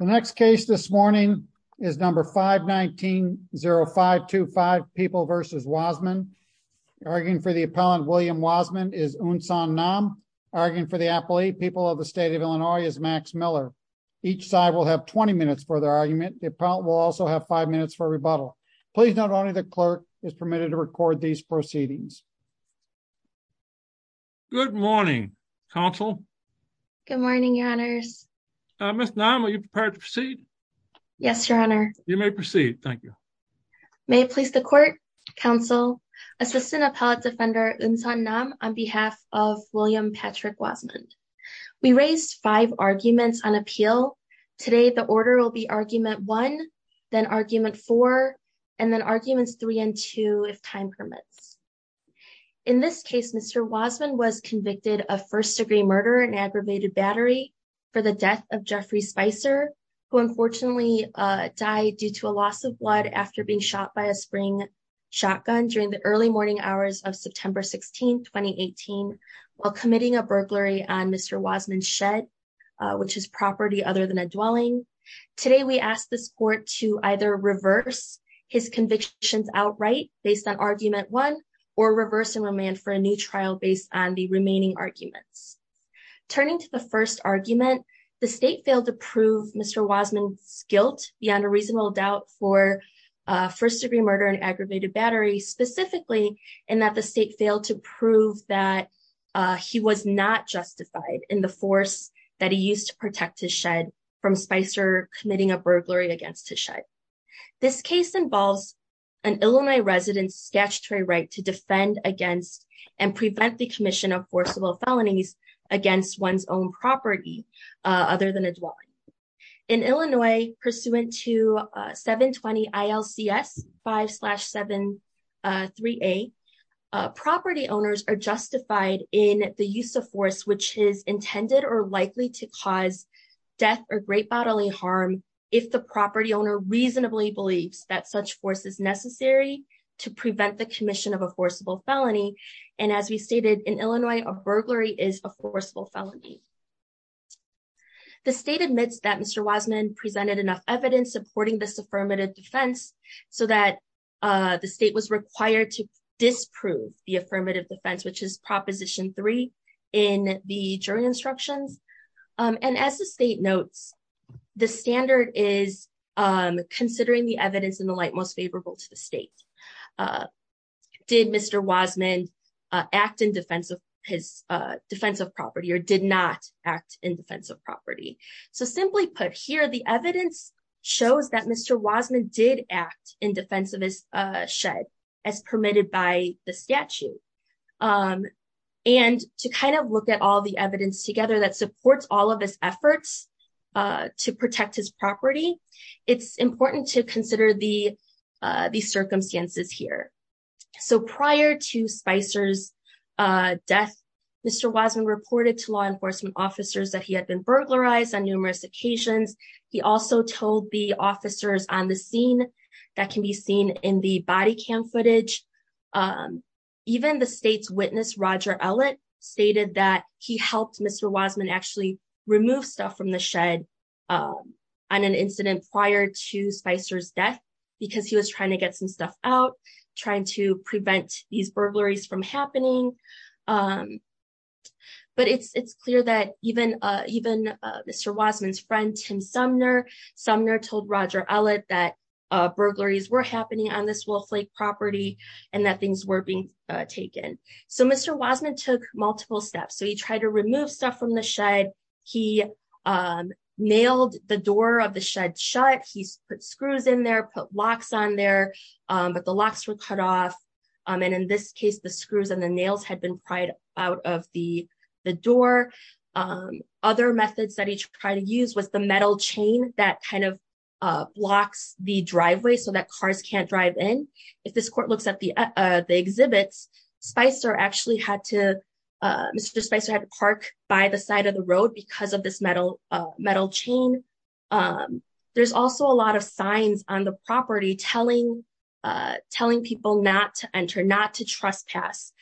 The next case this morning is number 519-0525, People v. Wasmund. Arguing for the appellant, William Wasmund, is Unsan Nam. Arguing for the appellate, People of the State of Illinois, is Max Miller. Each side will have 20 minutes for their argument. The appellant will also have five minutes for rebuttal. Please note only the clerk is permitted to record these proceedings. Good morning, counsel. Good morning, your honors. Ms. Nam, are you prepared to proceed? Yes, your honor. You may proceed. Thank you. May it please the court, counsel, Assistant Appellate Defender Unsan Nam, on behalf of William Patrick Wasmund. We raised five arguments on appeal. Today, the order will be Argument 1, then Argument 4, and then Arguments 3 and 2, if time permits. In this case, Mr. Wasmund was convicted of first-degree murder and aggravated battery for the death of Jeffrey Spicer, who unfortunately died due to a loss of blood after being shot by a spring shotgun during the early morning hours of September 16, 2018, while committing a burglary on Mr. Wasmund's shed, which is property other than a dwelling. Today, we ask this court to either reverse his convictions outright, based on Argument 1, or reverse and remand for a new trial based on the remaining arguments. Turning to the first argument, the state failed to prove Mr. Wasmund's guilt beyond a reasonable doubt for first-degree murder and aggravated battery, specifically in that the state failed to prove that he was not justified in the force that he used to protect his shed from Spicer committing a burglary against his shed. This case involves an Illinois resident's statutory right to defend against and prevent the commission of forcible felonies against one's own property other than a dwelling. In Illinois, pursuant to 720 ILCS 5-738, property owners are justified in the use of force which is intended or likely to cause death or great bodily harm if the property owner reasonably believes that such force is necessary to prevent the commission of a forcible felony, and as we stated in Illinois, a burglary is a forcible felony. The state admits that Mr. Wasmund presented enough evidence supporting this affirmative defense so that the state was required to disprove the affirmative defense, which is the state's right to defend against and prevent the commission of forcible felonies against a burglary, and as the state notes, the standard is considering the evidence in the light most favorable to the state. Did Mr. Wasmund act in defense of his defensive property or did not act in defense of property? So simply put, here the evidence shows that Mr. Wasmund did act in defense of his property, and while the evidence together that supports all of his efforts to protect his property, it's important to consider the circumstances here. So prior to Spicer's death, Mr. Wasmund reported to law enforcement officers that he had been burglarized on numerous occasions. He also told the officers on the scene that can be seen in the body cam footage. Even the state's witness, Roger Ellett, stated that he helped Mr. Wasmund actually remove stuff from the shed on an incident prior to Spicer's death because he was trying to get some stuff out, trying to prevent these burglaries from happening. But it's clear that even Mr. Wasmund's friend, Tim Sumner, Sumner told Roger Ellett that burglaries were happening on this property and that things were being taken. So Mr. Wasmund took multiple steps. So he tried to remove stuff from the shed. He nailed the door of the shed shut. He put screws in there, put locks on there, but the locks were cut off. And in this case, the screws and the nails had been pried out of the door. Other methods that he tried to use was the metal chain that kind of blocks the driveway so that cars can't drive in. If this court looks at the exhibits, Mr. Spicer had to park by the side of the road because of this metal chain. There's also a lot of signs on the property telling people not to enter, not to trespass.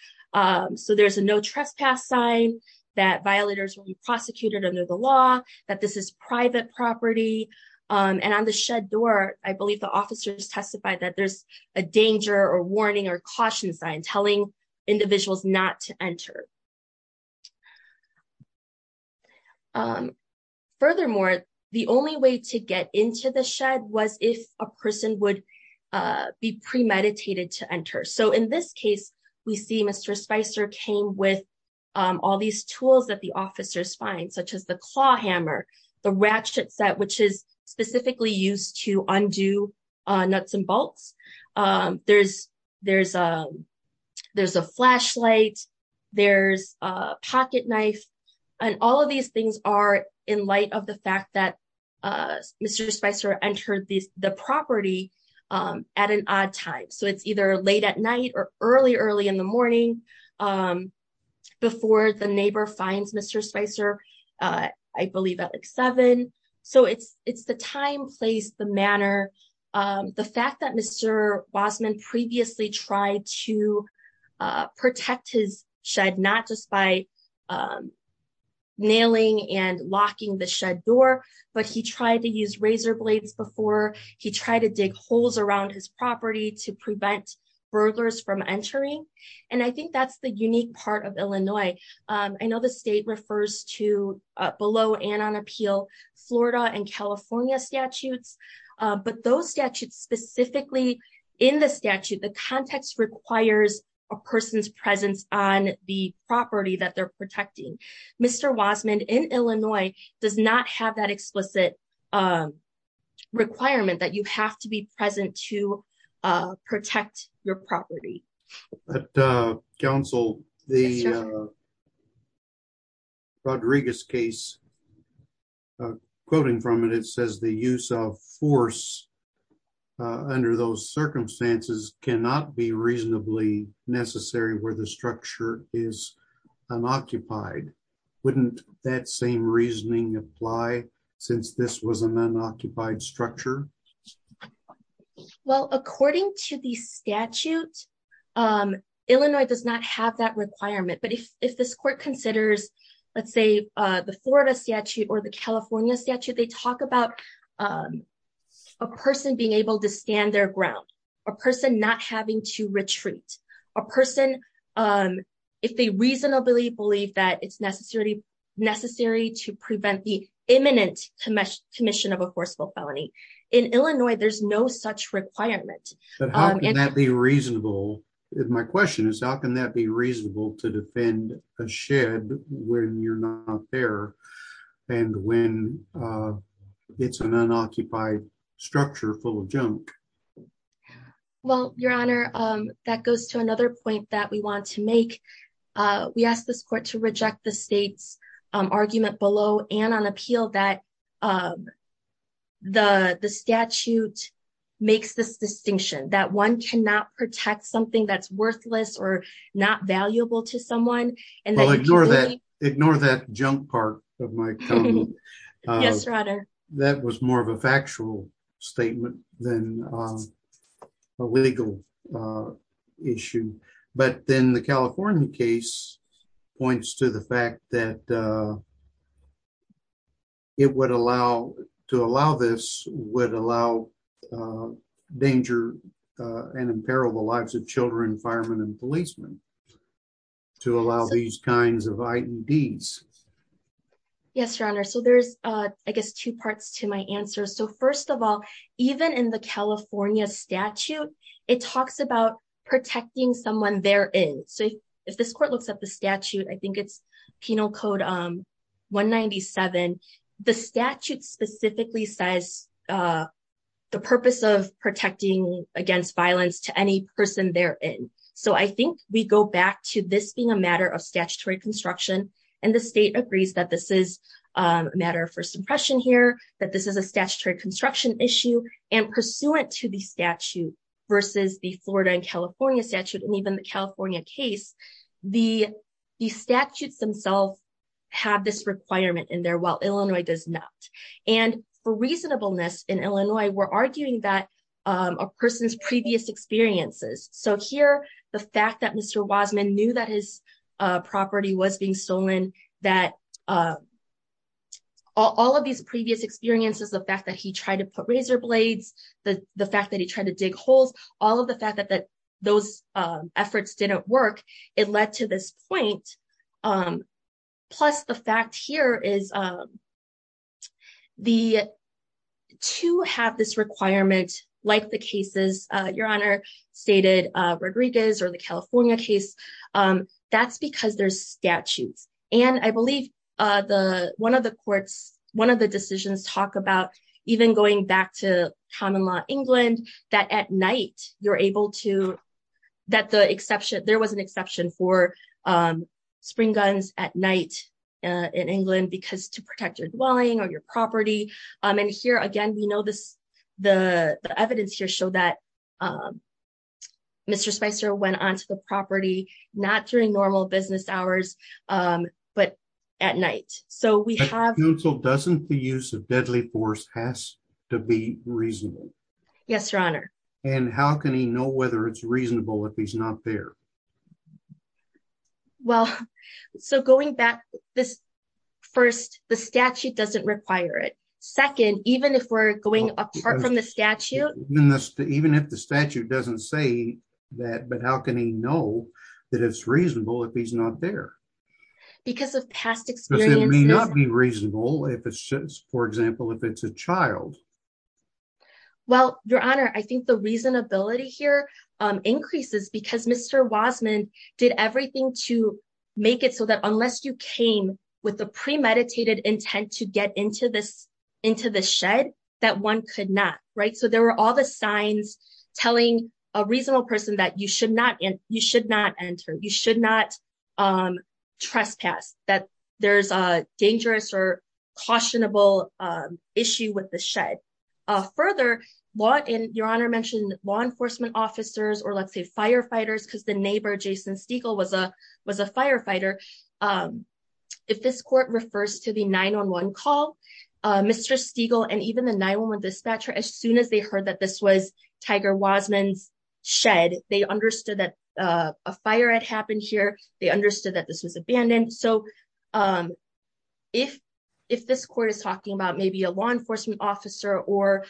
So there's a no trespass sign that violators will be prosecuted under the law, that this is private property. And on the shed door, I believe the officers testified that there's a danger or warning or caution sign telling individuals not to enter. Furthermore, the only way to get into the shed was if a person would be premeditated to enter. So in this case, we see Mr. Spicer came with all these tools that officers find, such as the claw hammer, the ratchet set, which is specifically used to undo nuts and bolts. There's a flashlight, there's a pocket knife, and all of these things are in light of the fact that Mr. Spicer entered the property at an odd time. So it's either late at night or early, early in the morning before the neighbor finds Mr. Spicer, I believe at like seven. So it's the time, place, the manner, the fact that Mr. Bosman previously tried to protect his shed, not just by nailing and locking the shed door, but he tried to use razor blades before he tried to dig holes around his property to prevent burglars from entering. And I think that's the unique part of Illinois. I know the state refers to, below and on appeal, Florida and California statutes, but those statutes specifically, in the statute, the context requires a person's presence on the property that they're protecting. Mr. Bosman in Illinois does not have that explicit requirement that you have to be present to protect your property. But Council, the Rodriguez case, quoting from it, it says the use of force under those circumstances cannot be applied since this was an unoccupied structure. Well, according to the statute, Illinois does not have that requirement. But if this court considers, let's say, the Florida statute or the California statute, they talk about a person being able to stand their ground, a person not having to retreat, a person, if they reasonably believe that it's necessary to prevent the imminent commission of a forceful felony. In Illinois, there's no such requirement. But how can that be reasonable? My question is, how can that be reasonable to defend a shed when you're not there and when it's an unoccupied structure full of junk? Well, your honor, that goes to another point that we want to make. We asked this court to reject the state's argument below and on appeal that the statute makes this distinction that one cannot protect something that's worthless or not valuable to someone. Ignore that. Ignore that junk part of my comment. Yes, your honor. That was more of a factual statement than a legal issue. But then the California case points to the fact that to allow this would allow danger and imperil the lives of children, firemen, and policemen, to allow these kinds of IEDs. Yes, your honor. So there's, I guess, two parts to my answer. So first of all, even in the California statute, it talks about protecting someone they're in. So if this court looks at the statute, I think it's Penal Code 197. The statute specifically says the purpose of protecting against violence to any person they're in. So I think we go back to this being a matter of statutory construction. And the state agrees that this is a matter of first impression here, that this is a statutory construction issue. And pursuant to the statute versus the Florida and California statute, and even the California case, the statutes themselves have this requirement in there, while Illinois does not. And for reasonableness, in Illinois, we're arguing that a person's previous experiences. So here, the fact that Mr. Wasman knew that his property was being stolen, that all of these previous experiences, the fact that he tried to put razor blades, the fact that he tried to dig holes, all of the fact that those efforts didn't work, it led to this point. Plus, the fact here is to have this requirement, like the cases, Your Honor, stated Rodriguez or the California case, that's because there's statutes. And I believe one of the courts, one of the decisions talk about even going back to common law England, that at night, you're able to that the exception, there was an exception for spring guns at night, in England, because to protect your dwelling or your property. And here, again, we know this, the evidence here show that Mr. Spicer went on to the property, not during normal business hours, but at night. So we have... But counsel, doesn't the use of deadly force has to be reasonable? Yes, Your Honor. And how can he know whether it's reasonable if he's not there? Well, so going back this, first, the statute doesn't require it. Second, even if we're going apart from the statute... Even if the statute doesn't say that, but how can he know that it's reasonable if he's not there? Because of past experience... Because it may not be reasonable if it's, for example, if it's a child. Well, Your Honor, I think the reasonability here increases because Mr. Wasman did everything to make it so that unless you came with the premeditated intent to get into the shed, that one could not, right? So there were all the signs telling a reasonable person that you should not enter, you should not trespass, that there's a dangerous or cautionable issue with the shed. Further, Your Honor mentioned law enforcement officers, or let's say firefighters, because the neighbor, Jason Stiegel, was a firefighter. If this court refers to the 911 call, Mr. Stiegel and even the 911 dispatcher, as soon as they heard that this was Tiger Wasman's shed, they understood that a fire had happened here, they understood that this was abandoned. So if this court is about maybe a law enforcement officer or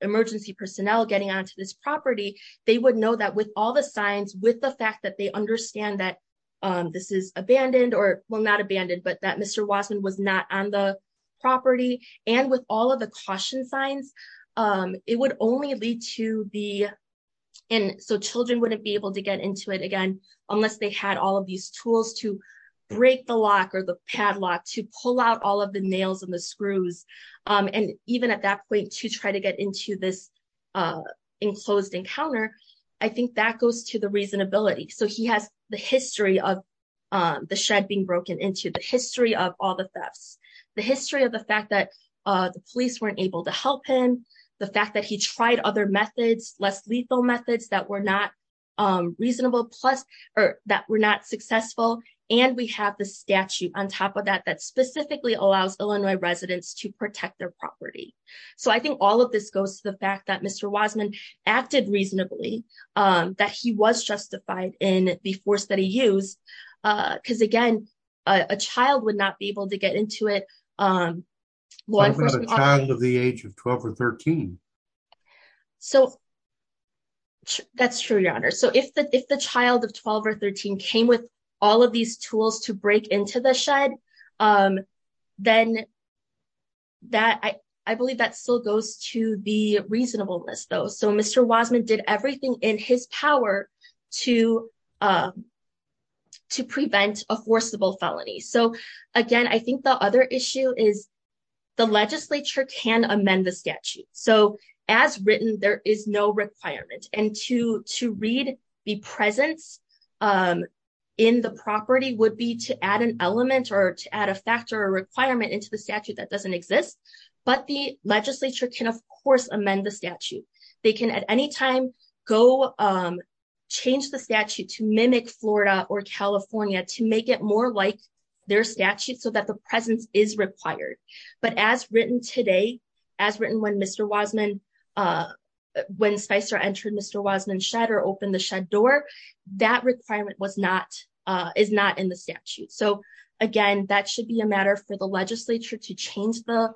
emergency personnel getting onto this property, they would know that with all the signs, with the fact that they understand that this is abandoned, or well, not abandoned, but that Mr. Wasman was not on the property, and with all of the caution signs, it would only lead to the... And so children wouldn't be able to get into it again, unless they had all of these tools to break the lock or the padlock, to pull out all of the nails and the screws. And even at that point, to try to get into this enclosed encounter, I think that goes to the reasonability. So he has the history of the shed being broken into, the history of all the thefts, the history of the fact that the police weren't able to help him, the fact that he tried other methods, less lethal methods that were not successful, and we have the statute on top of that, that specifically allows Illinois residents to protect their property. So I think all of this goes to the fact that Mr. Wasman acted reasonably, that he was justified in the force that he used, because again, a child would not be able to get into it. A child of the age of 12 or 13. So that's true, Your Honor. So if the child of 12 or 13 came with all of these tools to break into the shed, then I believe that still goes to the reasonableness, though. So Mr. Wasman did everything in his power to prevent a forcible felony. So again, I think the other issue is the legislature can amend the statute. So as written, there is no requirement. And to read the presence in the property would be to add an element or to add a factor or requirement into the statute that doesn't exist. But the legislature can, of course, amend the statute. They can at any time go change the statute to mimic Florida or California to make it more like their statute so that the presence is required. But as written today, as written when Mr. Wasman, when Spicer entered Mr. Wasman's shed or opened the shed door, that requirement is not in the statute. So again, that should be a matter for the legislature to change the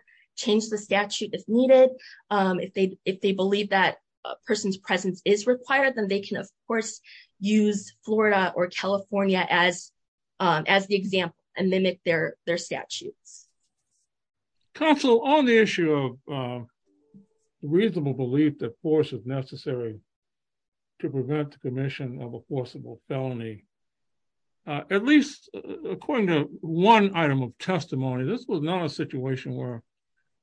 statute if needed. If they believe that a person's presence is required, then they can, of course, use Florida or California as the example and mimic their statutes. Counsel, on the issue of reasonable belief that force is necessary to prevent the commission of a forcible felony, at least according to one item of testimony, this was not a situation where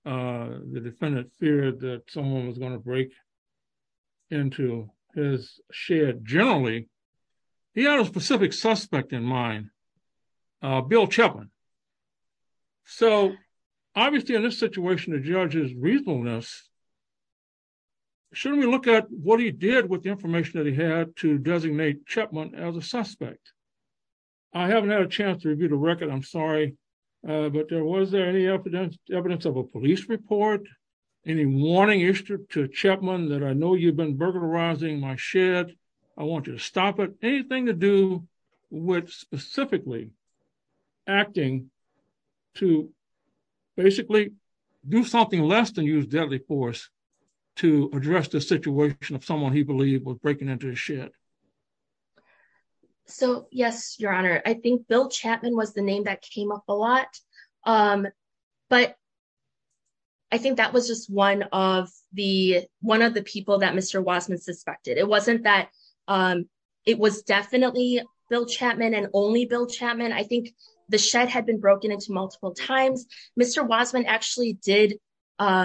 the defendant feared that someone was going to break into his shed. Generally, he had a specific suspect in mind, Bill Chapman. So obviously, in this situation, the judge's reasonableness, shouldn't we look at what he did with the information that he had to designate Chapman as a suspect? I haven't had a chance to review the record, I'm sorry, but was there any evidence of a police report? Any warning issued to Chapman that I know you've been burglarizing my shed, I want you to stop it? Anything to do with specifically acting to basically do something less than use deadly force to address the situation of someone he believed was breaking into his shed? So yes, your honor, I think Bill Chapman was the name that came up a lot. But I think that was just one of the people that Mr. Wasman suspected. It wasn't that it was definitely Bill Chapman and only Bill Chapman. I think the shed had been broken into multiple times. Mr. Wasman actually did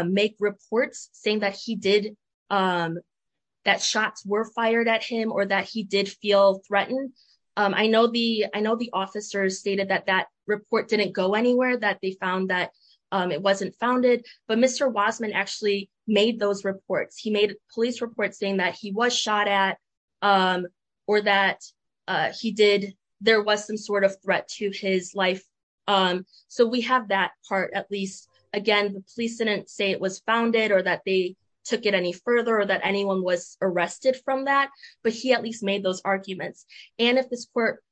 make reports saying that he did, that shots were fired at him or that he did feel threatened. I know the officers stated that that report didn't go anywhere, that they found that it wasn't founded, but Mr. Wasman actually made those reports. He made a police report saying that he was shot at or that he did, there was some sort of threat to his life. So we have that part, at least again, the police didn't say it was founded or that they took it any further or that anyone was arrested from that, but he at least made those arguments. And if this court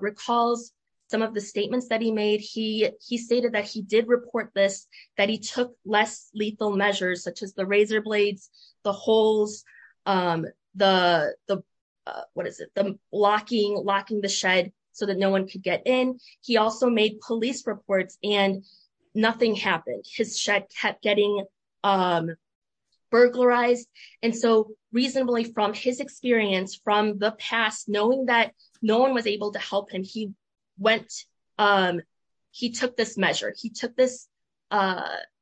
recalls some of the statements that he made, he stated that he did report this, that he took less lethal measures, such as the razor blades, the holes, the, what is it? The locking the shed so that no one could get in. He also made police reports and nothing happened. His shed kept getting burglarized. And so reasonably from his experience, from the past, knowing that no one was able to help him, he went, he took this measure. He took this,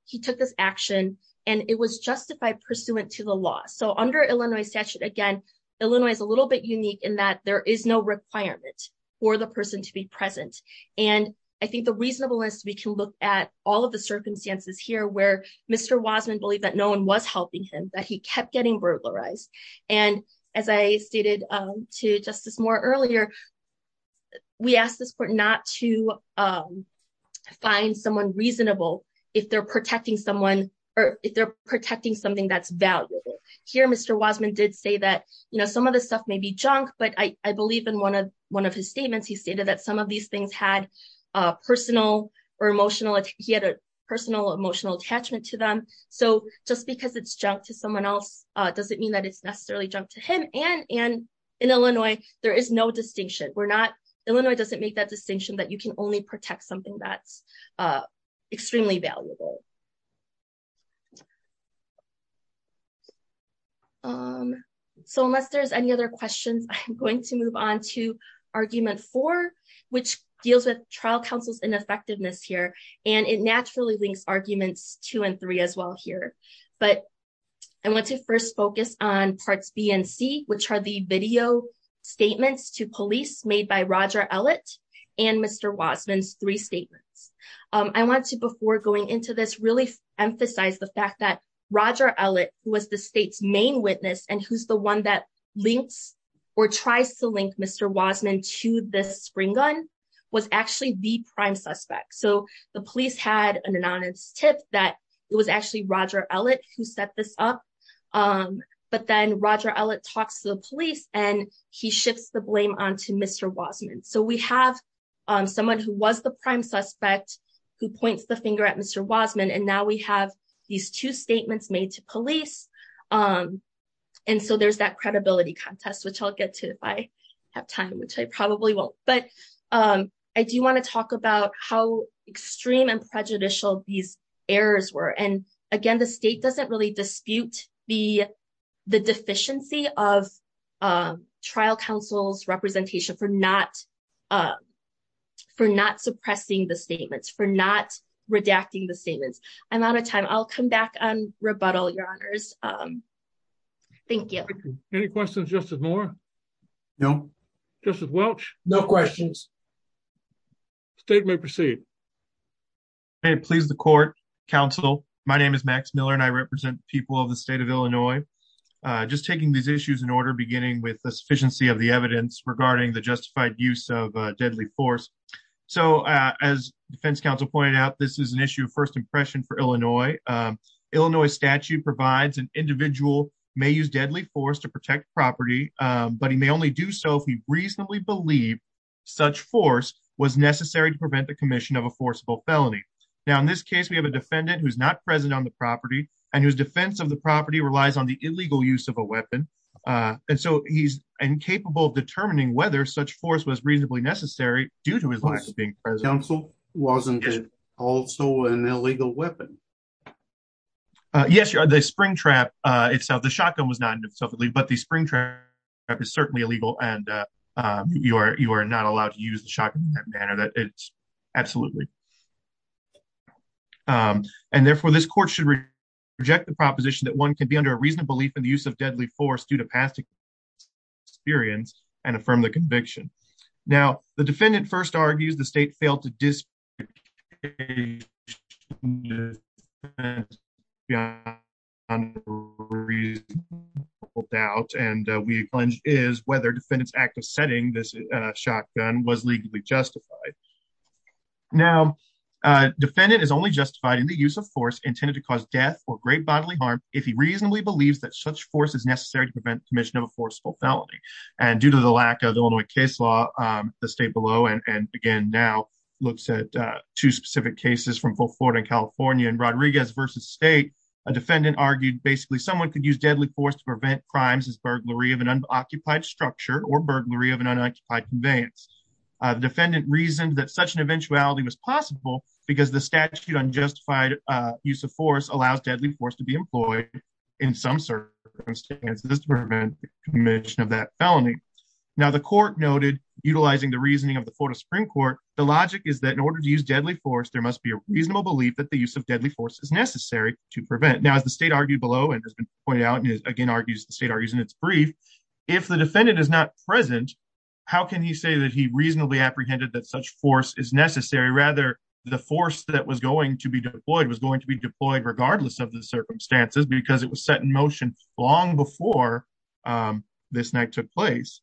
he took this action and it was justified pursuant to the law. So under Illinois statute, again, Illinois is a little bit unique in that there is no requirement for the person to be present. And I think the reasonableness, we can look at all of the circumstances here where Mr. Wasman believed that no one was helping him, that he kept getting burglarized. And as I stated to Justice Moore earlier, we asked this court not to find someone reasonable if they're protecting someone or if they're protecting something that's valuable. Here, Mr. Wasman did say that, you know, some of this stuff may be junk, but I believe in one of his statements, he stated that some of these things had a personal or emotional, he had a personal emotional attachment to them. So just because it's junk to someone else doesn't mean that it's necessarily junk to him. And in Illinois, there is no distinction. We're not, Illinois doesn't make that distinction that you can only protect something that's extremely valuable. So unless there's any other questions, I'm going to move on to argument four, which deals with trial counsel's ineffectiveness here. And it naturally links arguments two and three as well here. But I want to first focus on parts B and C, which are the video statements to police made by Roger Ellett, and Mr. Wasman's three statements. I want to before going into this, really emphasize the fact that Roger Ellett, who was the state's main witness, and who's the one that links or tries to link Mr. Wasman to this spring gun, was actually the prime suspect. So the police had an anonymous tip that it was actually Roger Ellett who set this up. But then Roger Ellett talks to the police, and he shifts the blame on to Mr. Wasman. So we have someone who was the prime suspect, who points the finger at Mr. Wasman, and now we have these two statements made to police. And so there's that credibility contest, which I'll get to if I have time, which I probably won't. But I do want to talk about how extreme and prejudicial these errors were. And again, the state doesn't really dispute the deficiency of trial counsel's representation for not suppressing the statements, for not redacting the statements. I'm out of time. I'll come back on rebuttal, your honors. Thank you. Any questions, Justice Moore? No. Justice Welch? No questions. State may proceed. May it please the court, counsel. My name is Max Miller, and I represent people of the state of Illinois. Just taking these issues in order, beginning with sufficiency of the evidence regarding the justified use of deadly force. So as defense counsel pointed out, this is an issue of first impression for Illinois. Illinois statute provides an individual may use deadly force to protect property, but he may only do so if he reasonably believed such force was necessary to prevent the commission of a forcible felony. Now in this case, we have a defendant who's not present on the property, and whose defense of the property relies on the illegal use of a weapon. And so he's incapable of determining whether such force was reasonably necessary due to his being present. Counsel, wasn't it also an illegal weapon? Yes, the spring trap itself, the shotgun was not in itself, but the spring trap is certainly illegal, and you are not allowed to use the shotgun in that manner. Absolutely. And therefore, this court should reject the proposition that one can be under a reasonable belief in the use of deadly force due to past experience and affirm the conviction. Now, the defendant first argues the state failed to dispute a reasonable doubt, and we pledge is, whether defendant's act of setting this shotgun was legally justified. Now, defendant is only justified in the use of force intended to cause death or great bodily harm, if he reasonably believes that such force is necessary to prevent commission of a forcible felony. And due to the lack of Illinois case law, the state below, and again, now looks at two specific cases from both Florida and California and Rodriguez versus state, a defendant argued basically someone could use deadly force to prevent crimes as burglary of an unoccupied structure or burglary of an unoccupied conveyance. The defendant reasoned such an eventuality was possible because the statute unjustified use of force allows deadly force to be employed in some circumstances to prevent commission of that felony. Now, the court noted, utilizing the reasoning of the Florida Supreme Court, the logic is that in order to use deadly force, there must be a reasonable belief that the use of deadly force is necessary to prevent. Now, as the state argued below and has been pointed out, and again, argues the state argues in its brief, if the defendant is not present, how can he say that he reasonably apprehended that such force is necessary, rather, the force that was going to be deployed was going to be deployed regardless of the circumstances, because it was set in motion long before this night took place.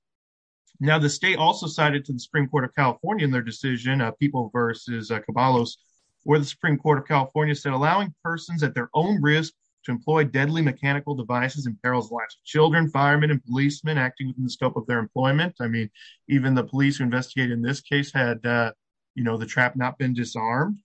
Now, the state also cited to the Supreme Court of California in their decision of people versus Caballos, where the Supreme Court of California said allowing persons at their own risk to employ deadly mechanical devices and perils last children, firemen and policemen acting within the scope of their employment. I mean, even the police who in this case had, you know, the trap not been disarmed,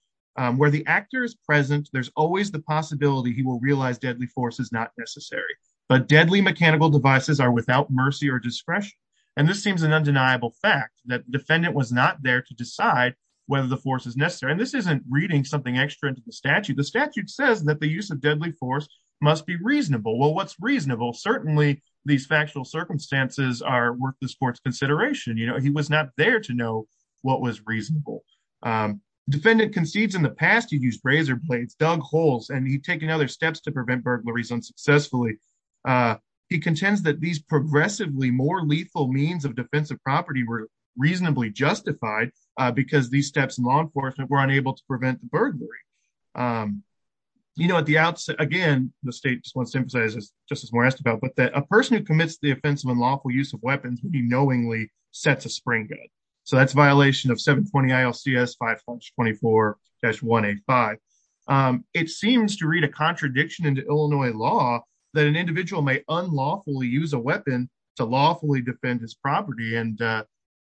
where the actor is present, there's always the possibility he will realize deadly force is not necessary. But deadly mechanical devices are without mercy or discretion. And this seems an undeniable fact that defendant was not there to decide whether the force is necessary. And this isn't reading something extra into the statute, the statute says that the use of deadly force must be reasonable. Well, what's reasonable, certainly, these factual circumstances are worth the sports consideration, you know, he was not there to know what was reasonable. Defendant concedes in the past, he used razor blades, dug holes, and he taken other steps to prevent burglaries unsuccessfully. He contends that these progressively more lethal means of defensive property were reasonably justified, because these steps in law enforcement were unable to prevent the burglary. You know, at the outset, again, the state just wants to emphasize, as Justice Moore asked about, but that a person commits the offense of unlawful use of weapons when he knowingly sets a spring gun. So that's violation of 720 ILCS 524-185. It seems to read a contradiction into Illinois law that an individual may unlawfully use a weapon to lawfully defend his property. And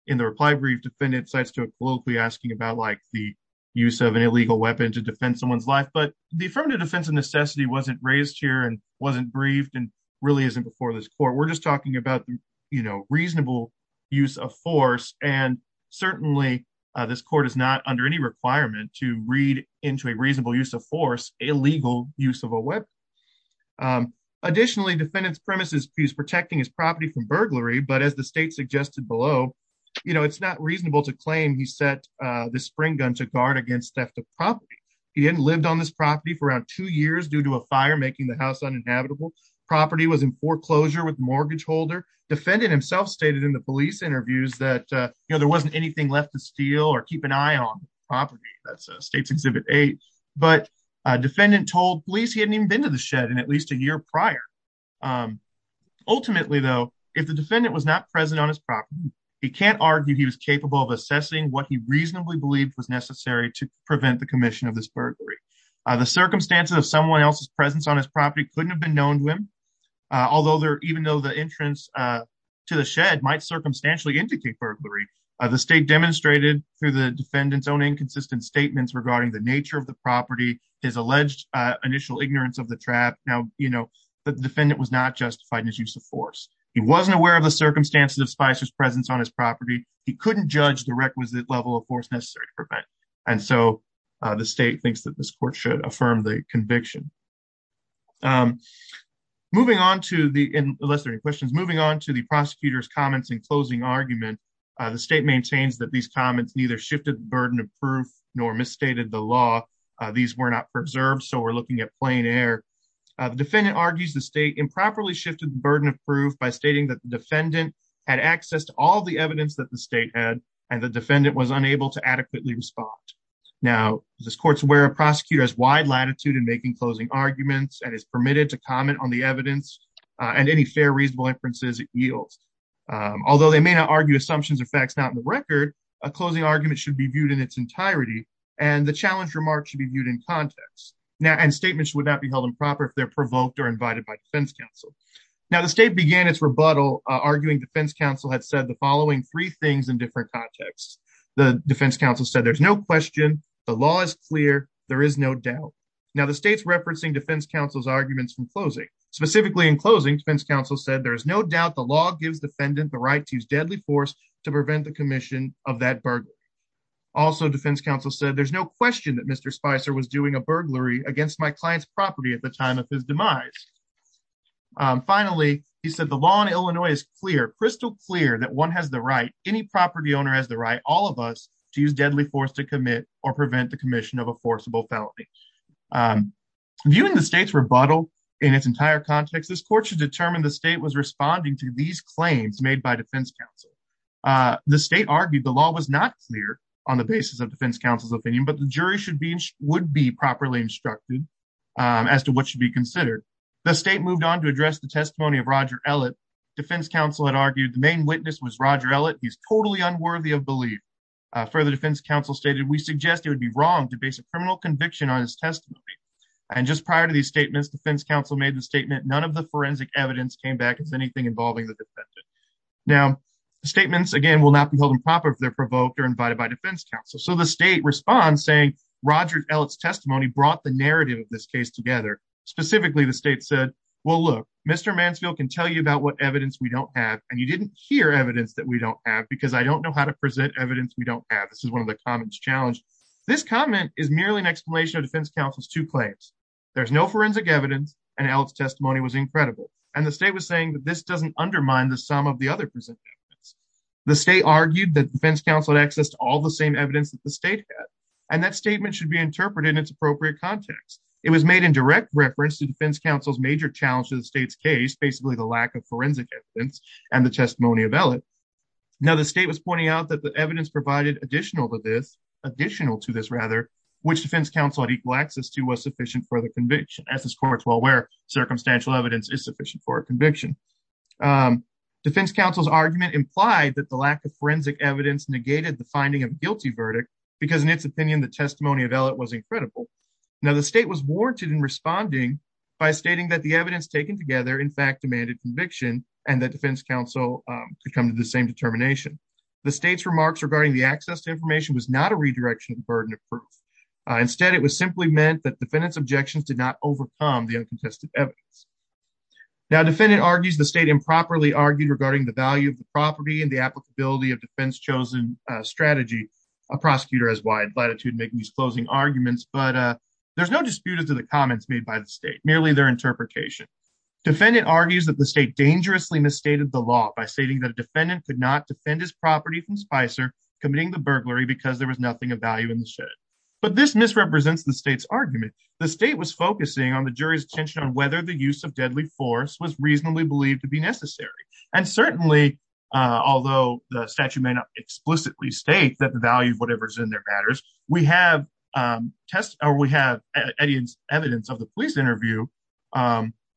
in the reply brief, defendant cites to a politically asking about like the use of an illegal weapon to defend someone's life. But the affirmative defense of necessity wasn't raised here and wasn't briefed and really isn't before this court. We're just talking about, you know, reasonable use of force. And certainly, this court is not under any requirement to read into a reasonable use of force, illegal use of a weapon. Additionally, defendants premises, he's protecting his property from burglary, but as the state suggested below, you know, it's not reasonable to claim he set the spring gun to guard against theft of property. He hadn't lived on this property for around two years due to a fire making the house uninhabitable. Property was in foreclosure with mortgage holder. Defendant himself stated in the police interviews that, you know, there wasn't anything left to steal or keep an eye on the property. That's States Exhibit 8. But defendant told police he hadn't even been to the shed in at least a year prior. Ultimately, though, if the defendant was not present on his property, he can't argue he was capable of assessing what he reasonably believed was necessary to prevent the commission of this burglary. The circumstances of someone else's presence on his property couldn't have been known to him. Although there, even though the entrance to the shed might circumstantially indicate burglary, the state demonstrated through the defendant's own inconsistent statements regarding the nature of the property, his alleged initial ignorance of the trap. Now, you know, the defendant was not justified in his use of force. He wasn't aware of the circumstances of Spicer's presence on his property. He couldn't judge the requisite level of force necessary to prevent. And so the state thinks that this court should affirm the conviction. Moving on to the, unless there are any questions, moving on to the prosecutor's comments and closing argument, the state maintains that these comments neither shifted the burden of proof nor misstated the law. These were not preserved. So we're looking at plain air. The defendant argues the state improperly shifted the burden of proof by stating that the defendant had access to all the evidence that the state had and the defendant was unable to adequately respond. Now, this court's where a prosecutor has wide latitude in making closing arguments and is permitted to comment on the evidence and any fair, reasonable inferences it yields. Although they may not argue assumptions or facts not in the record, a closing argument should be viewed in its entirety and the challenge remark should be viewed in context. Now, and statements would not be held improper if they're provoked or invited by defense counsel. Now the state began its rebuttal, arguing defense counsel had said the following three things in different contexts. The defense counsel said there's no question, the law is clear, there is no doubt. Now the state's referencing defense counsel's arguments from closing. Specifically in closing, defense counsel said there is no doubt the law gives defendant the right to use deadly force to prevent the commission of that burglary. Also, defense counsel said there's no question that Mr. Spicer was doing a burglary against my client's property at the time of his demise. Finally, he said the law in Illinois is clear, crystal clear, that one has the right, any property owner has the right, all of us to use deadly force to commit or prevent the commission of a forcible felony. Viewing the state's rebuttal in its entire context, this court should determine the state was responding to these claims made by defense counsel. The state argued the law was not clear on the basis of defense counsel's opinion, but the jury would be properly instructed as to what should be considered. The state moved on to address the Roger Ellett, he's totally unworthy of belief. Further, defense counsel stated we suggest it would be wrong to base a criminal conviction on his testimony. And just prior to these statements, defense counsel made the statement none of the forensic evidence came back as anything involving the defendant. Now, statements again will not be held improper if they're provoked or invited by defense counsel. So the state responds saying Roger Ellett's testimony brought the narrative of this case together. Specifically the state said, well look, Mr. Mansfield can tell you about what evidence we don't have, and you didn't hear evidence that we don't have, because I don't know how to present evidence we don't have. This is one of the comments challenged. This comment is merely an explanation of defense counsel's two claims. There's no forensic evidence, and Ellett's testimony was incredible. And the state was saying that this doesn't undermine the sum of the other present statements. The state argued that defense counsel had access to all the same evidence that the state had, and that statement should be interpreted in its appropriate context. It was made in direct reference to defense counsel's major challenge to the state's case, basically the lack of forensic evidence and the testimony of Ellett. Now the state was pointing out that the evidence provided additional to this, additional to this rather, which defense counsel had equal access to was sufficient for the conviction. As this court's well aware, circumstantial evidence is sufficient for a conviction. Defense counsel's argument implied that the lack of forensic evidence negated the finding of guilty verdict, because in its opinion the testimony of Ellett was incredible. Now the state was warranted in responding by stating that the evidence taken together in fact demanded conviction, and that defense counsel could come to the same determination. The state's remarks regarding the access to information was not a redirection of the burden of proof. Instead it was simply meant that defendant's objections did not overcome the uncontested evidence. Now defendant argues the state improperly argued regarding the value of the property and the applicability of defense chosen strategy. A prosecutor has wide latitude making these closing arguments, but there's no dispute as to the comments made by the state, merely their interpretation. Defendant argues that the state dangerously misstated the law by stating that a defendant could not defend his property from Spicer committing the burglary because there was nothing of value in the shed. But this misrepresents the state's argument. The state was focusing on the jury's attention on whether the use of deadly force was reasonably believed to be necessary. And certainly, although the statute may not explicitly state that the evidence of the police interview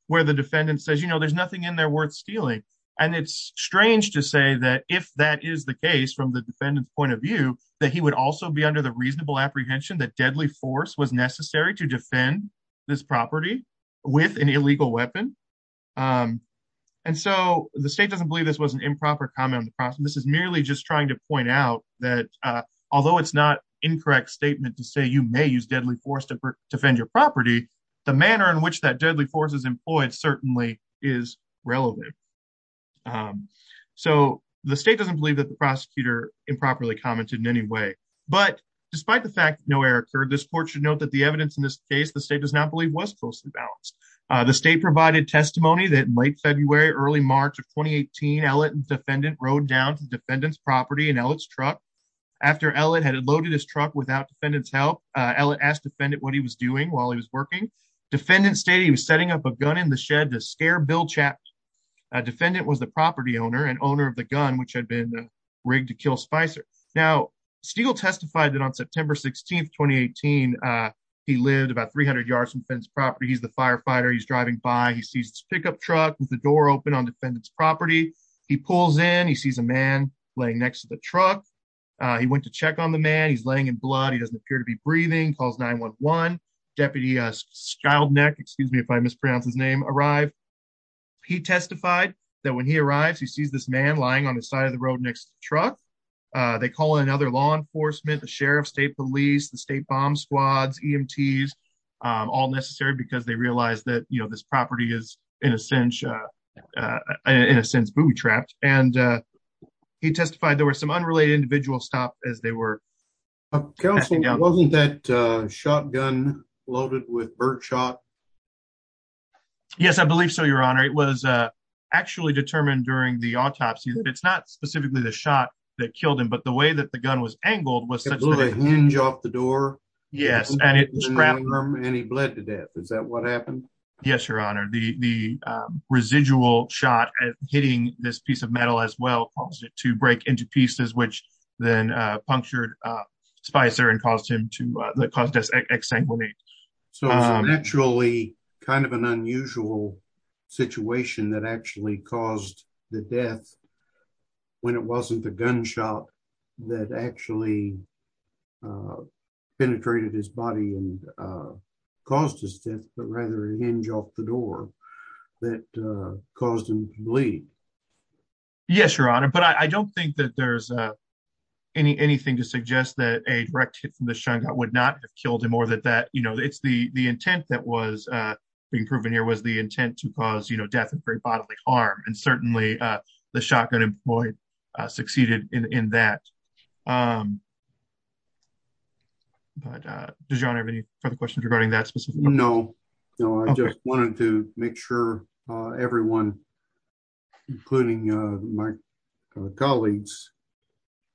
where the defendant says, you know, there's nothing in there worth stealing. And it's strange to say that if that is the case from the defendant's point of view, that he would also be under the reasonable apprehension that deadly force was necessary to defend this property with an illegal weapon. And so the state doesn't believe this was an improper comment. This is merely just trying to point out that although it's not incorrect statement to say you may use deadly force to defend your property, the manner in which that deadly force is employed certainly is relevant. So the state doesn't believe that the prosecutor improperly commented in any way. But despite the fact that no error occurred, this court should note that the evidence in this case, the state does not believe was closely balanced. The state provided testimony that late February, early March of 2018, Ellett and defendant rode down to defendant's help. Ellett asked defendant what he was doing while he was working. Defendant stated he was setting up a gun in the shed to scare Bill Chapman. Defendant was the property owner and owner of the gun, which had been rigged to kill Spicer. Now, Stegall testified that on September 16, 2018, he lived about 300 yards from the defendant's property. He's the firefighter. He's driving by. He sees this pickup truck with the door open on defendant's property. He pulls in. He sees a man laying next to the truck. He went to check on the man. He's laying in blood. He doesn't appear to be breathing, calls 911. Deputy Schildknecht, excuse me if I mispronounce his name, arrived. He testified that when he arrives, he sees this man lying on the side of the road next to the truck. They call in another law enforcement, the sheriff, state police, the state bomb squads, EMTs, all necessary because they realize that, you know, this property is, in a sense, in a sense, booby trapped. And he testified there were some unrelated individual stop as they were. Counsel, wasn't that shotgun loaded with birdshot? Yes, I believe so, your honor. It was actually determined during the autopsy that it's not specifically the shot that killed him, but the way that the gun was angled was such a hinge off the door. Yes, and it grabbed him and he bled to death. Is that what happened? Yes, your honor. The residual shot hitting this piece of metal as well caused it to break into pieces, which then punctured Spicer and caused him to, that caused his exsanguination. So it's actually kind of an unusual situation that actually caused the death when it wasn't the gunshot that actually penetrated his body and caused his death, but rather a hinge off the door that caused him to bleed. Yes, your honor. But I don't think that there's any, anything to suggest that a direct hit from the shotgun would not have killed him or that, that, you know, it's the, the intent that was being proven here was the intent to cause, you know, death and very bodily harm. And certainly the shotgun employed succeeded in that. But does your honor have any further questions regarding that specific? No, no. I just wanted to make sure everyone, including my colleagues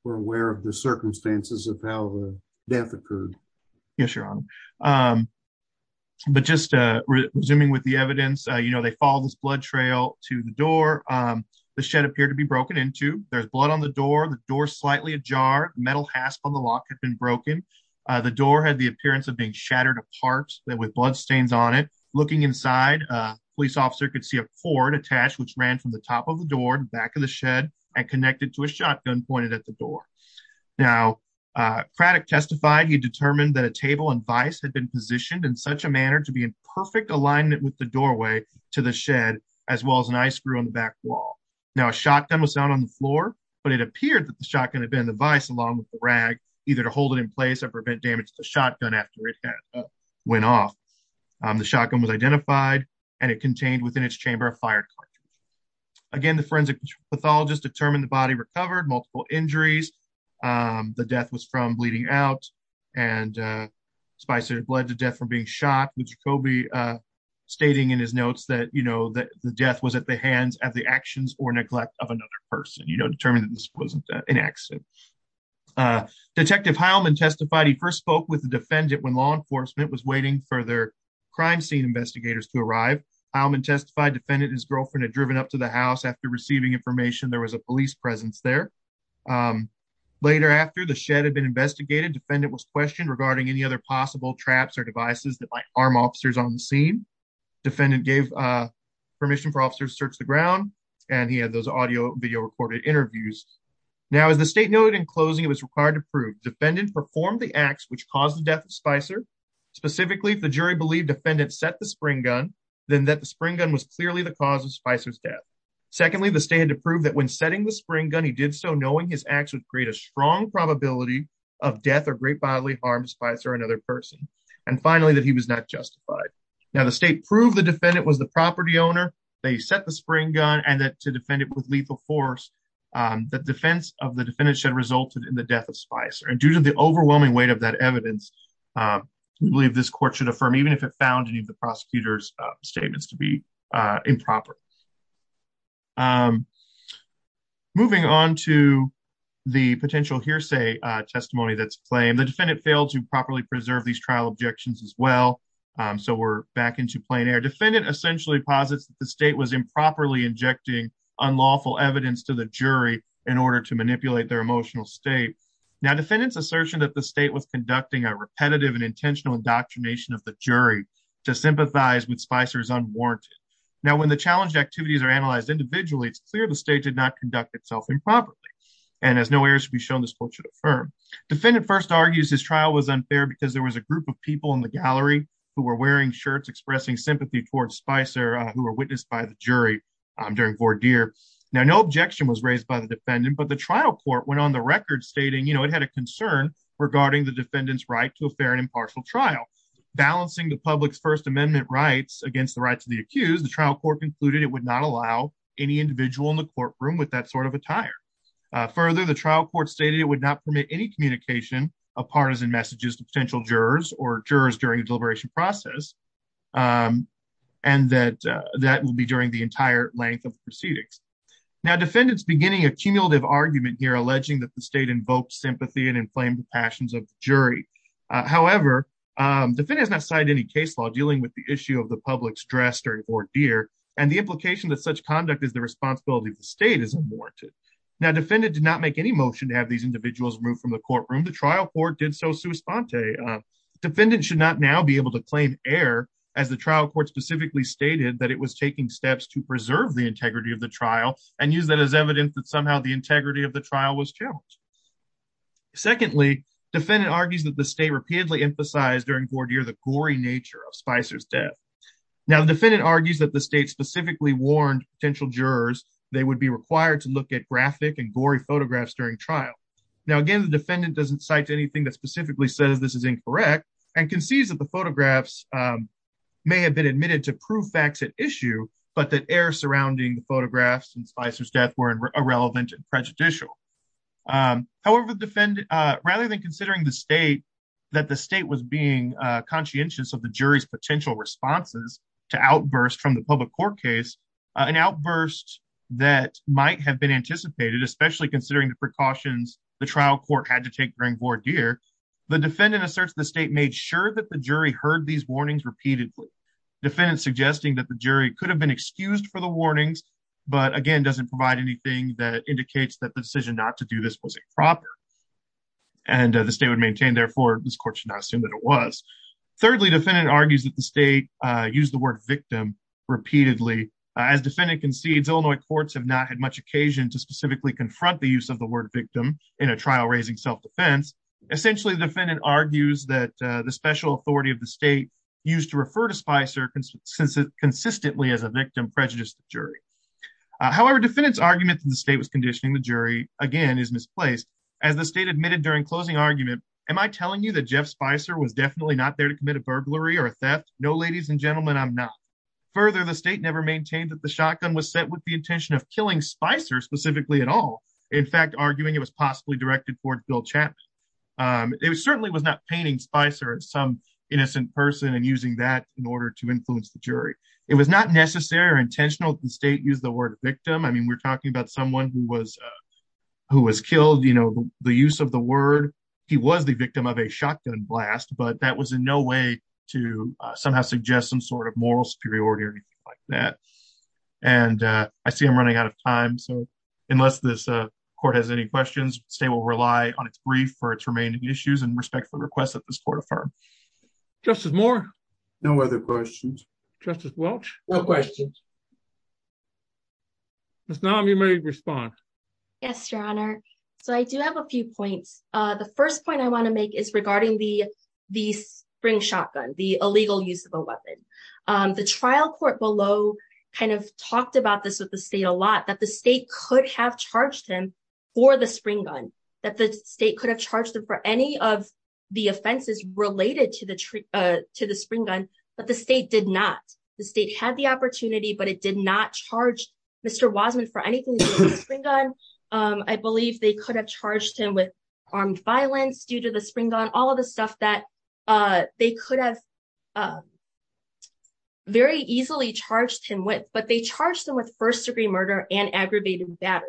were aware of the circumstances of how the death occurred. Yes, your honor. But just resuming with the evidence, you know, they follow this blood trail to the door. The shed appeared to be broken into, there's blood on the door, the door slightly ajar, metal hasp on the lock had been broken. The door had the appearance of being shattered apart with blood stains on it. Looking inside, a police officer could see a cord attached, which ran from the top of the door to the back of the shed and connected to a shotgun pointed at the door. Now Craddock testified he determined that a table and vice had been positioned in such a manner to be in perfect alignment with the doorway to the shed, as well as an eye screw on the back wall. Now a shotgun was found on the floor, but it appeared that the shotgun had been in the vice along with the rag, either to hold it in place or prevent damage to the shotgun after it went off. The shotgun was identified and it contained within its chamber a fired cartridge. Again, the forensic pathologist determined the body recovered multiple injuries. The death was from bleeding out and spices of blood to death from being shot with Jacobi stating in his notes that, you know, that the death was at the hands of the actions or neglect of another person, you know, determined that this wasn't an accident. Detective Heilman testified he first spoke with the defendant when law enforcement was waiting for their crime scene investigators to arrive. Heilman testified defendant and his girlfriend had driven up to the house after receiving information there was a police presence there. Later after the shed had been investigated, defendant was questioned regarding any other possible traps or devices that might arm officers on the scene. Defendant gave permission for officers to search the ground and he had those audio video recorded interviews. Now as the state noted in closing it was required to prove defendant performed the acts which caused the death of Spicer, specifically if the jury believed defendant set the spring gun, then that the spring gun was clearly the cause of Spicer's death. Secondly, the state had to prove that when setting the spring gun he did so knowing his acts would create a strong probability of death or great bodily harm to Spicer or another person. And finally that he was not justified. Now the state proved the defendant was the property owner, they set the spring gun, and that to defend it with lethal force the defense of the defendant should have resulted in the death of Spicer. And due to the overwhelming weight of that evidence we believe this court should affirm even if it found any of the prosecutor's statements to be improper. Moving on to the potential hearsay testimony that's claimed, the defendant failed to properly preserve these trial objections as well. So we're back into plain air. Defendant essentially posits that the state was improperly injecting unlawful evidence to the jury in order to manipulate their emotional state. Now defendant's assertion that the state was conducting a repetitive and intentional indoctrination of the jury to sympathize with Spicer is unwarranted. Now when the challenged activities are analyzed individually it's clear the state did not conduct itself improperly, and as no errors should be shown this court should affirm. Defendant first argues his trial was unfair because there was a group of people in the gallery who were wearing expressing sympathy towards Spicer who were witnessed by the jury during voir dire. Now no objection was raised by the defendant but the trial court went on the record stating you know it had a concern regarding the defendant's right to a fair and impartial trial. Balancing the public's first amendment rights against the rights of the accused the trial court concluded it would not allow any individual in the courtroom with that sort of attire. Further the trial court stated it would not permit any communication of partisan messages to potential jurors or jurors during deliberation process and that that will be during the entire length of proceedings. Now defendant's beginning a cumulative argument here alleging that the state invoked sympathy and inflamed the passions of the jury. However defendant has not cited any case law dealing with the issue of the public's dress during voir dire and the implication that such conduct is the responsibility of the state is unwarranted. Now defendant did not make any motion to have these be able to claim error as the trial court specifically stated that it was taking steps to preserve the integrity of the trial and use that as evidence that somehow the integrity of the trial was challenged. Secondly defendant argues that the state repeatedly emphasized during voir dire the gory nature of Spicer's death. Now the defendant argues that the state specifically warned potential jurors they would be required to look at graphic and gory photographs during trial. Now again the defendant doesn't cite anything that specifically says this is incorrect and concedes that the photographs may have been admitted to prove facts at issue but that error surrounding the photographs and Spicer's death were irrelevant and prejudicial. However defendant rather than considering the state that the state was being conscientious of the jury's potential responses to outbursts from the public court case an outburst that might have been anticipated especially considering the precautions the trial court had to take during voir dire the defendant asserts the state made sure that the jury heard these warnings repeatedly. Defendant suggesting that the jury could have been excused for the warnings but again doesn't provide anything that indicates that the decision not to do this was improper and the state would maintain therefore this court should not assume that it was. Thirdly defendant argues that the state used the word victim repeatedly as defendant concedes Illinois courts have not had much occasion to specifically confront the use of the word victim in a trial raising self-defense. Essentially the defendant argues that the special authority of the state used to refer to Spicer consistently as a victim prejudiced the jury. However defendant's argument that the state was conditioning the jury again is misplaced as the state admitted during closing argument am I telling you that Jeff Spicer was definitely not there to commit a burglary or a theft? No ladies and gentlemen I'm not. Further the state never maintained that the shotgun was set with the intention of killing Spicer specifically at all. In fact arguing it was possibly directed toward Bill Chapman. It certainly was not painting Spicer as some innocent person and using that in order to influence the jury. It was not necessary or intentional that the state used the word victim. I mean we're talking about someone who was who was killed you know the use of the word he was the victim of a shotgun blast but that was in no way to somehow suggest some sort of moral superiority or anything like that and I see I'm running out of time so unless this court has any questions state will rely on its brief for its remaining issues and respectful requests that this court affirm. Justice Moore? No other questions. Justice Welch? No questions. Miss Naum you may respond. Yes your honor so I do have a few points. The first point I want to make regarding the the spring shotgun the illegal use of a weapon. The trial court below kind of talked about this with the state a lot that the state could have charged him for the spring gun that the state could have charged him for any of the offenses related to the to the spring gun but the state did not. The state had the opportunity but it did not charge Mr. Wasman for anything. I believe they could have charged him with armed violence due to the spring gun all of the stuff that they could have very easily charged him with but they charged them with first degree murder and aggravated battery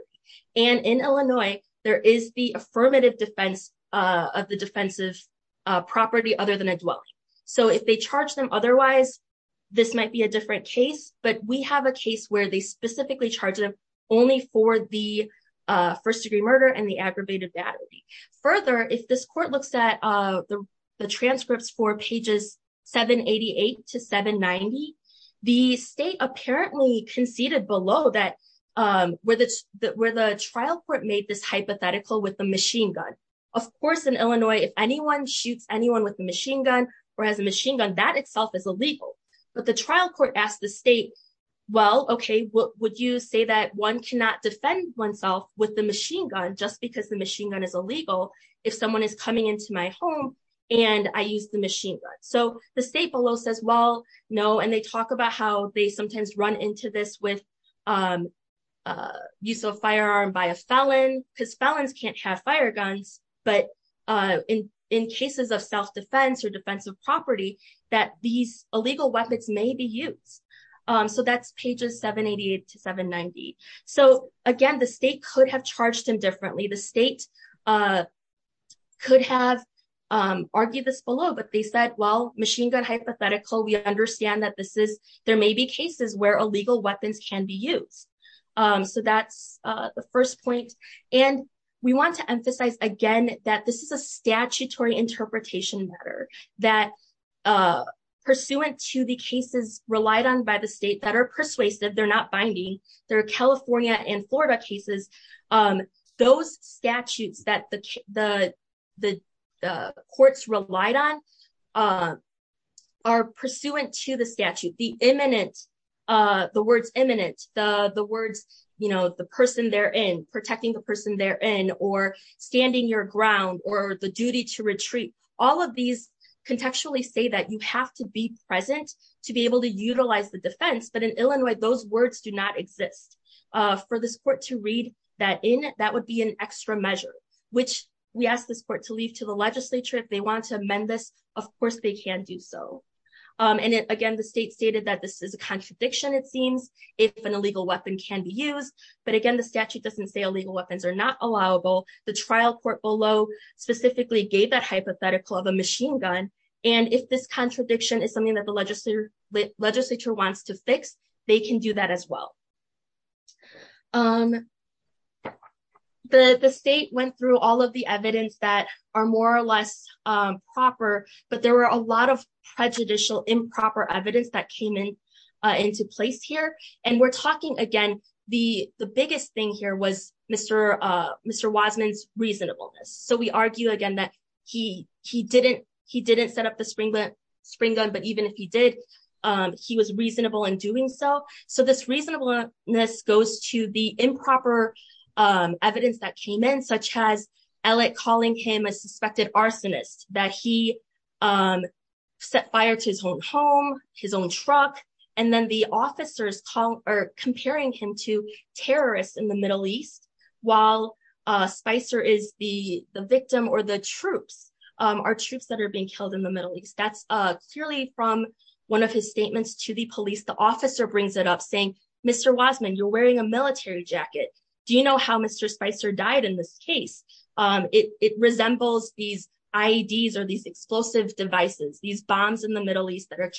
and in Illinois there is the affirmative defense of the defensive property other than a dwelling. So if they charge them otherwise this might be a different case but we have a case where they specifically charge them only for the first court looks at the transcripts for pages 788 to 790. The state apparently conceded below that where the trial court made this hypothetical with the machine gun. Of course in Illinois if anyone shoots anyone with the machine gun or has a machine gun that itself is illegal but the trial court asked the state well okay would you say that one cannot defend oneself with the machine gun just because the machine gun is illegal if someone is coming into my home and I use the machine gun. So the state below says well no and they talk about how they sometimes run into this with use of firearm by a felon because felons can't have fire guns but in cases of self-defense or defensive property that these illegal weapons may be used. So that's pages 788 to 790. So again the state could have charged him differently the state could have argued this below but they said well machine gun hypothetical we understand that this is there may be cases where illegal weapons can be used. So that's the first point and we want to emphasize again that this is a statutory interpretation matter that pursuant to the cases relied on by the state are persuasive they're not binding they're California and Florida cases those statutes that the the the courts relied on are pursuant to the statute the imminent the words imminent the the words you know the person they're in protecting the person they're in or standing your ground or the duty to retreat all of these contextually say that you have to be present to be able to utilize the defense but in Illinois those words do not exist for this court to read that in that would be an extra measure which we asked this court to leave to the legislature if they want to amend this of course they can do so and again the state stated that this is a contradiction it seems if an illegal weapon can be used but again the statute doesn't say illegal weapons are not allowable the trial court below specifically gave that hypothetical of a machine gun and if this contradiction is something that the legislature legislature wants to fix they can do that as well the the state went through all of the evidence that are more or less proper but there were a lot of prejudicial improper evidence that came in into place here and we're talking again the the biggest thing here was Mr. Wiseman's reasonableness so we argue again that he he didn't he didn't set up the spring spring gun but even if he did he was reasonable in doing so so this reasonableness goes to the improper evidence that came in such as elliot calling him a suspected arsonist that he set fire to his own home his own truck and then the officers call or comparing him to terrorists in the middle east while uh spicer is the the victim or the troops um are troops that are being killed in the middle east that's uh clearly from one of his statements to the police the officer brings it up saying Mr. Wiseman you're wearing a military jacket do you know how Mr. Spicer died in this case um it it resembles these IEDs or these explosive devices these bombs in the middle east that are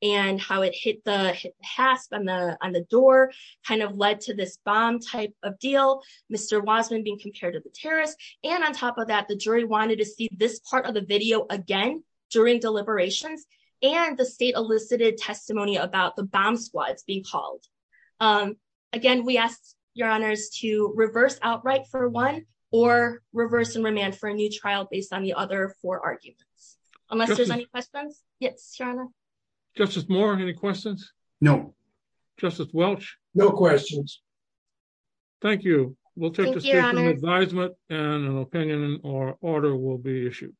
and how it hit the hasp on the on the door kind of led to this bomb type of deal Mr. Wiseman being compared to the terrorists and on top of that the jury wanted to see this part of the video again during deliberations and the state elicited testimony about the bomb squads being called again we asked your honors to reverse outright for one or reverse and remand for a new trial based on the other four arguments unless there's any questions yes justice moore any questions no justice welch no questions thank you we'll take an advisement and an opinion or order will be issued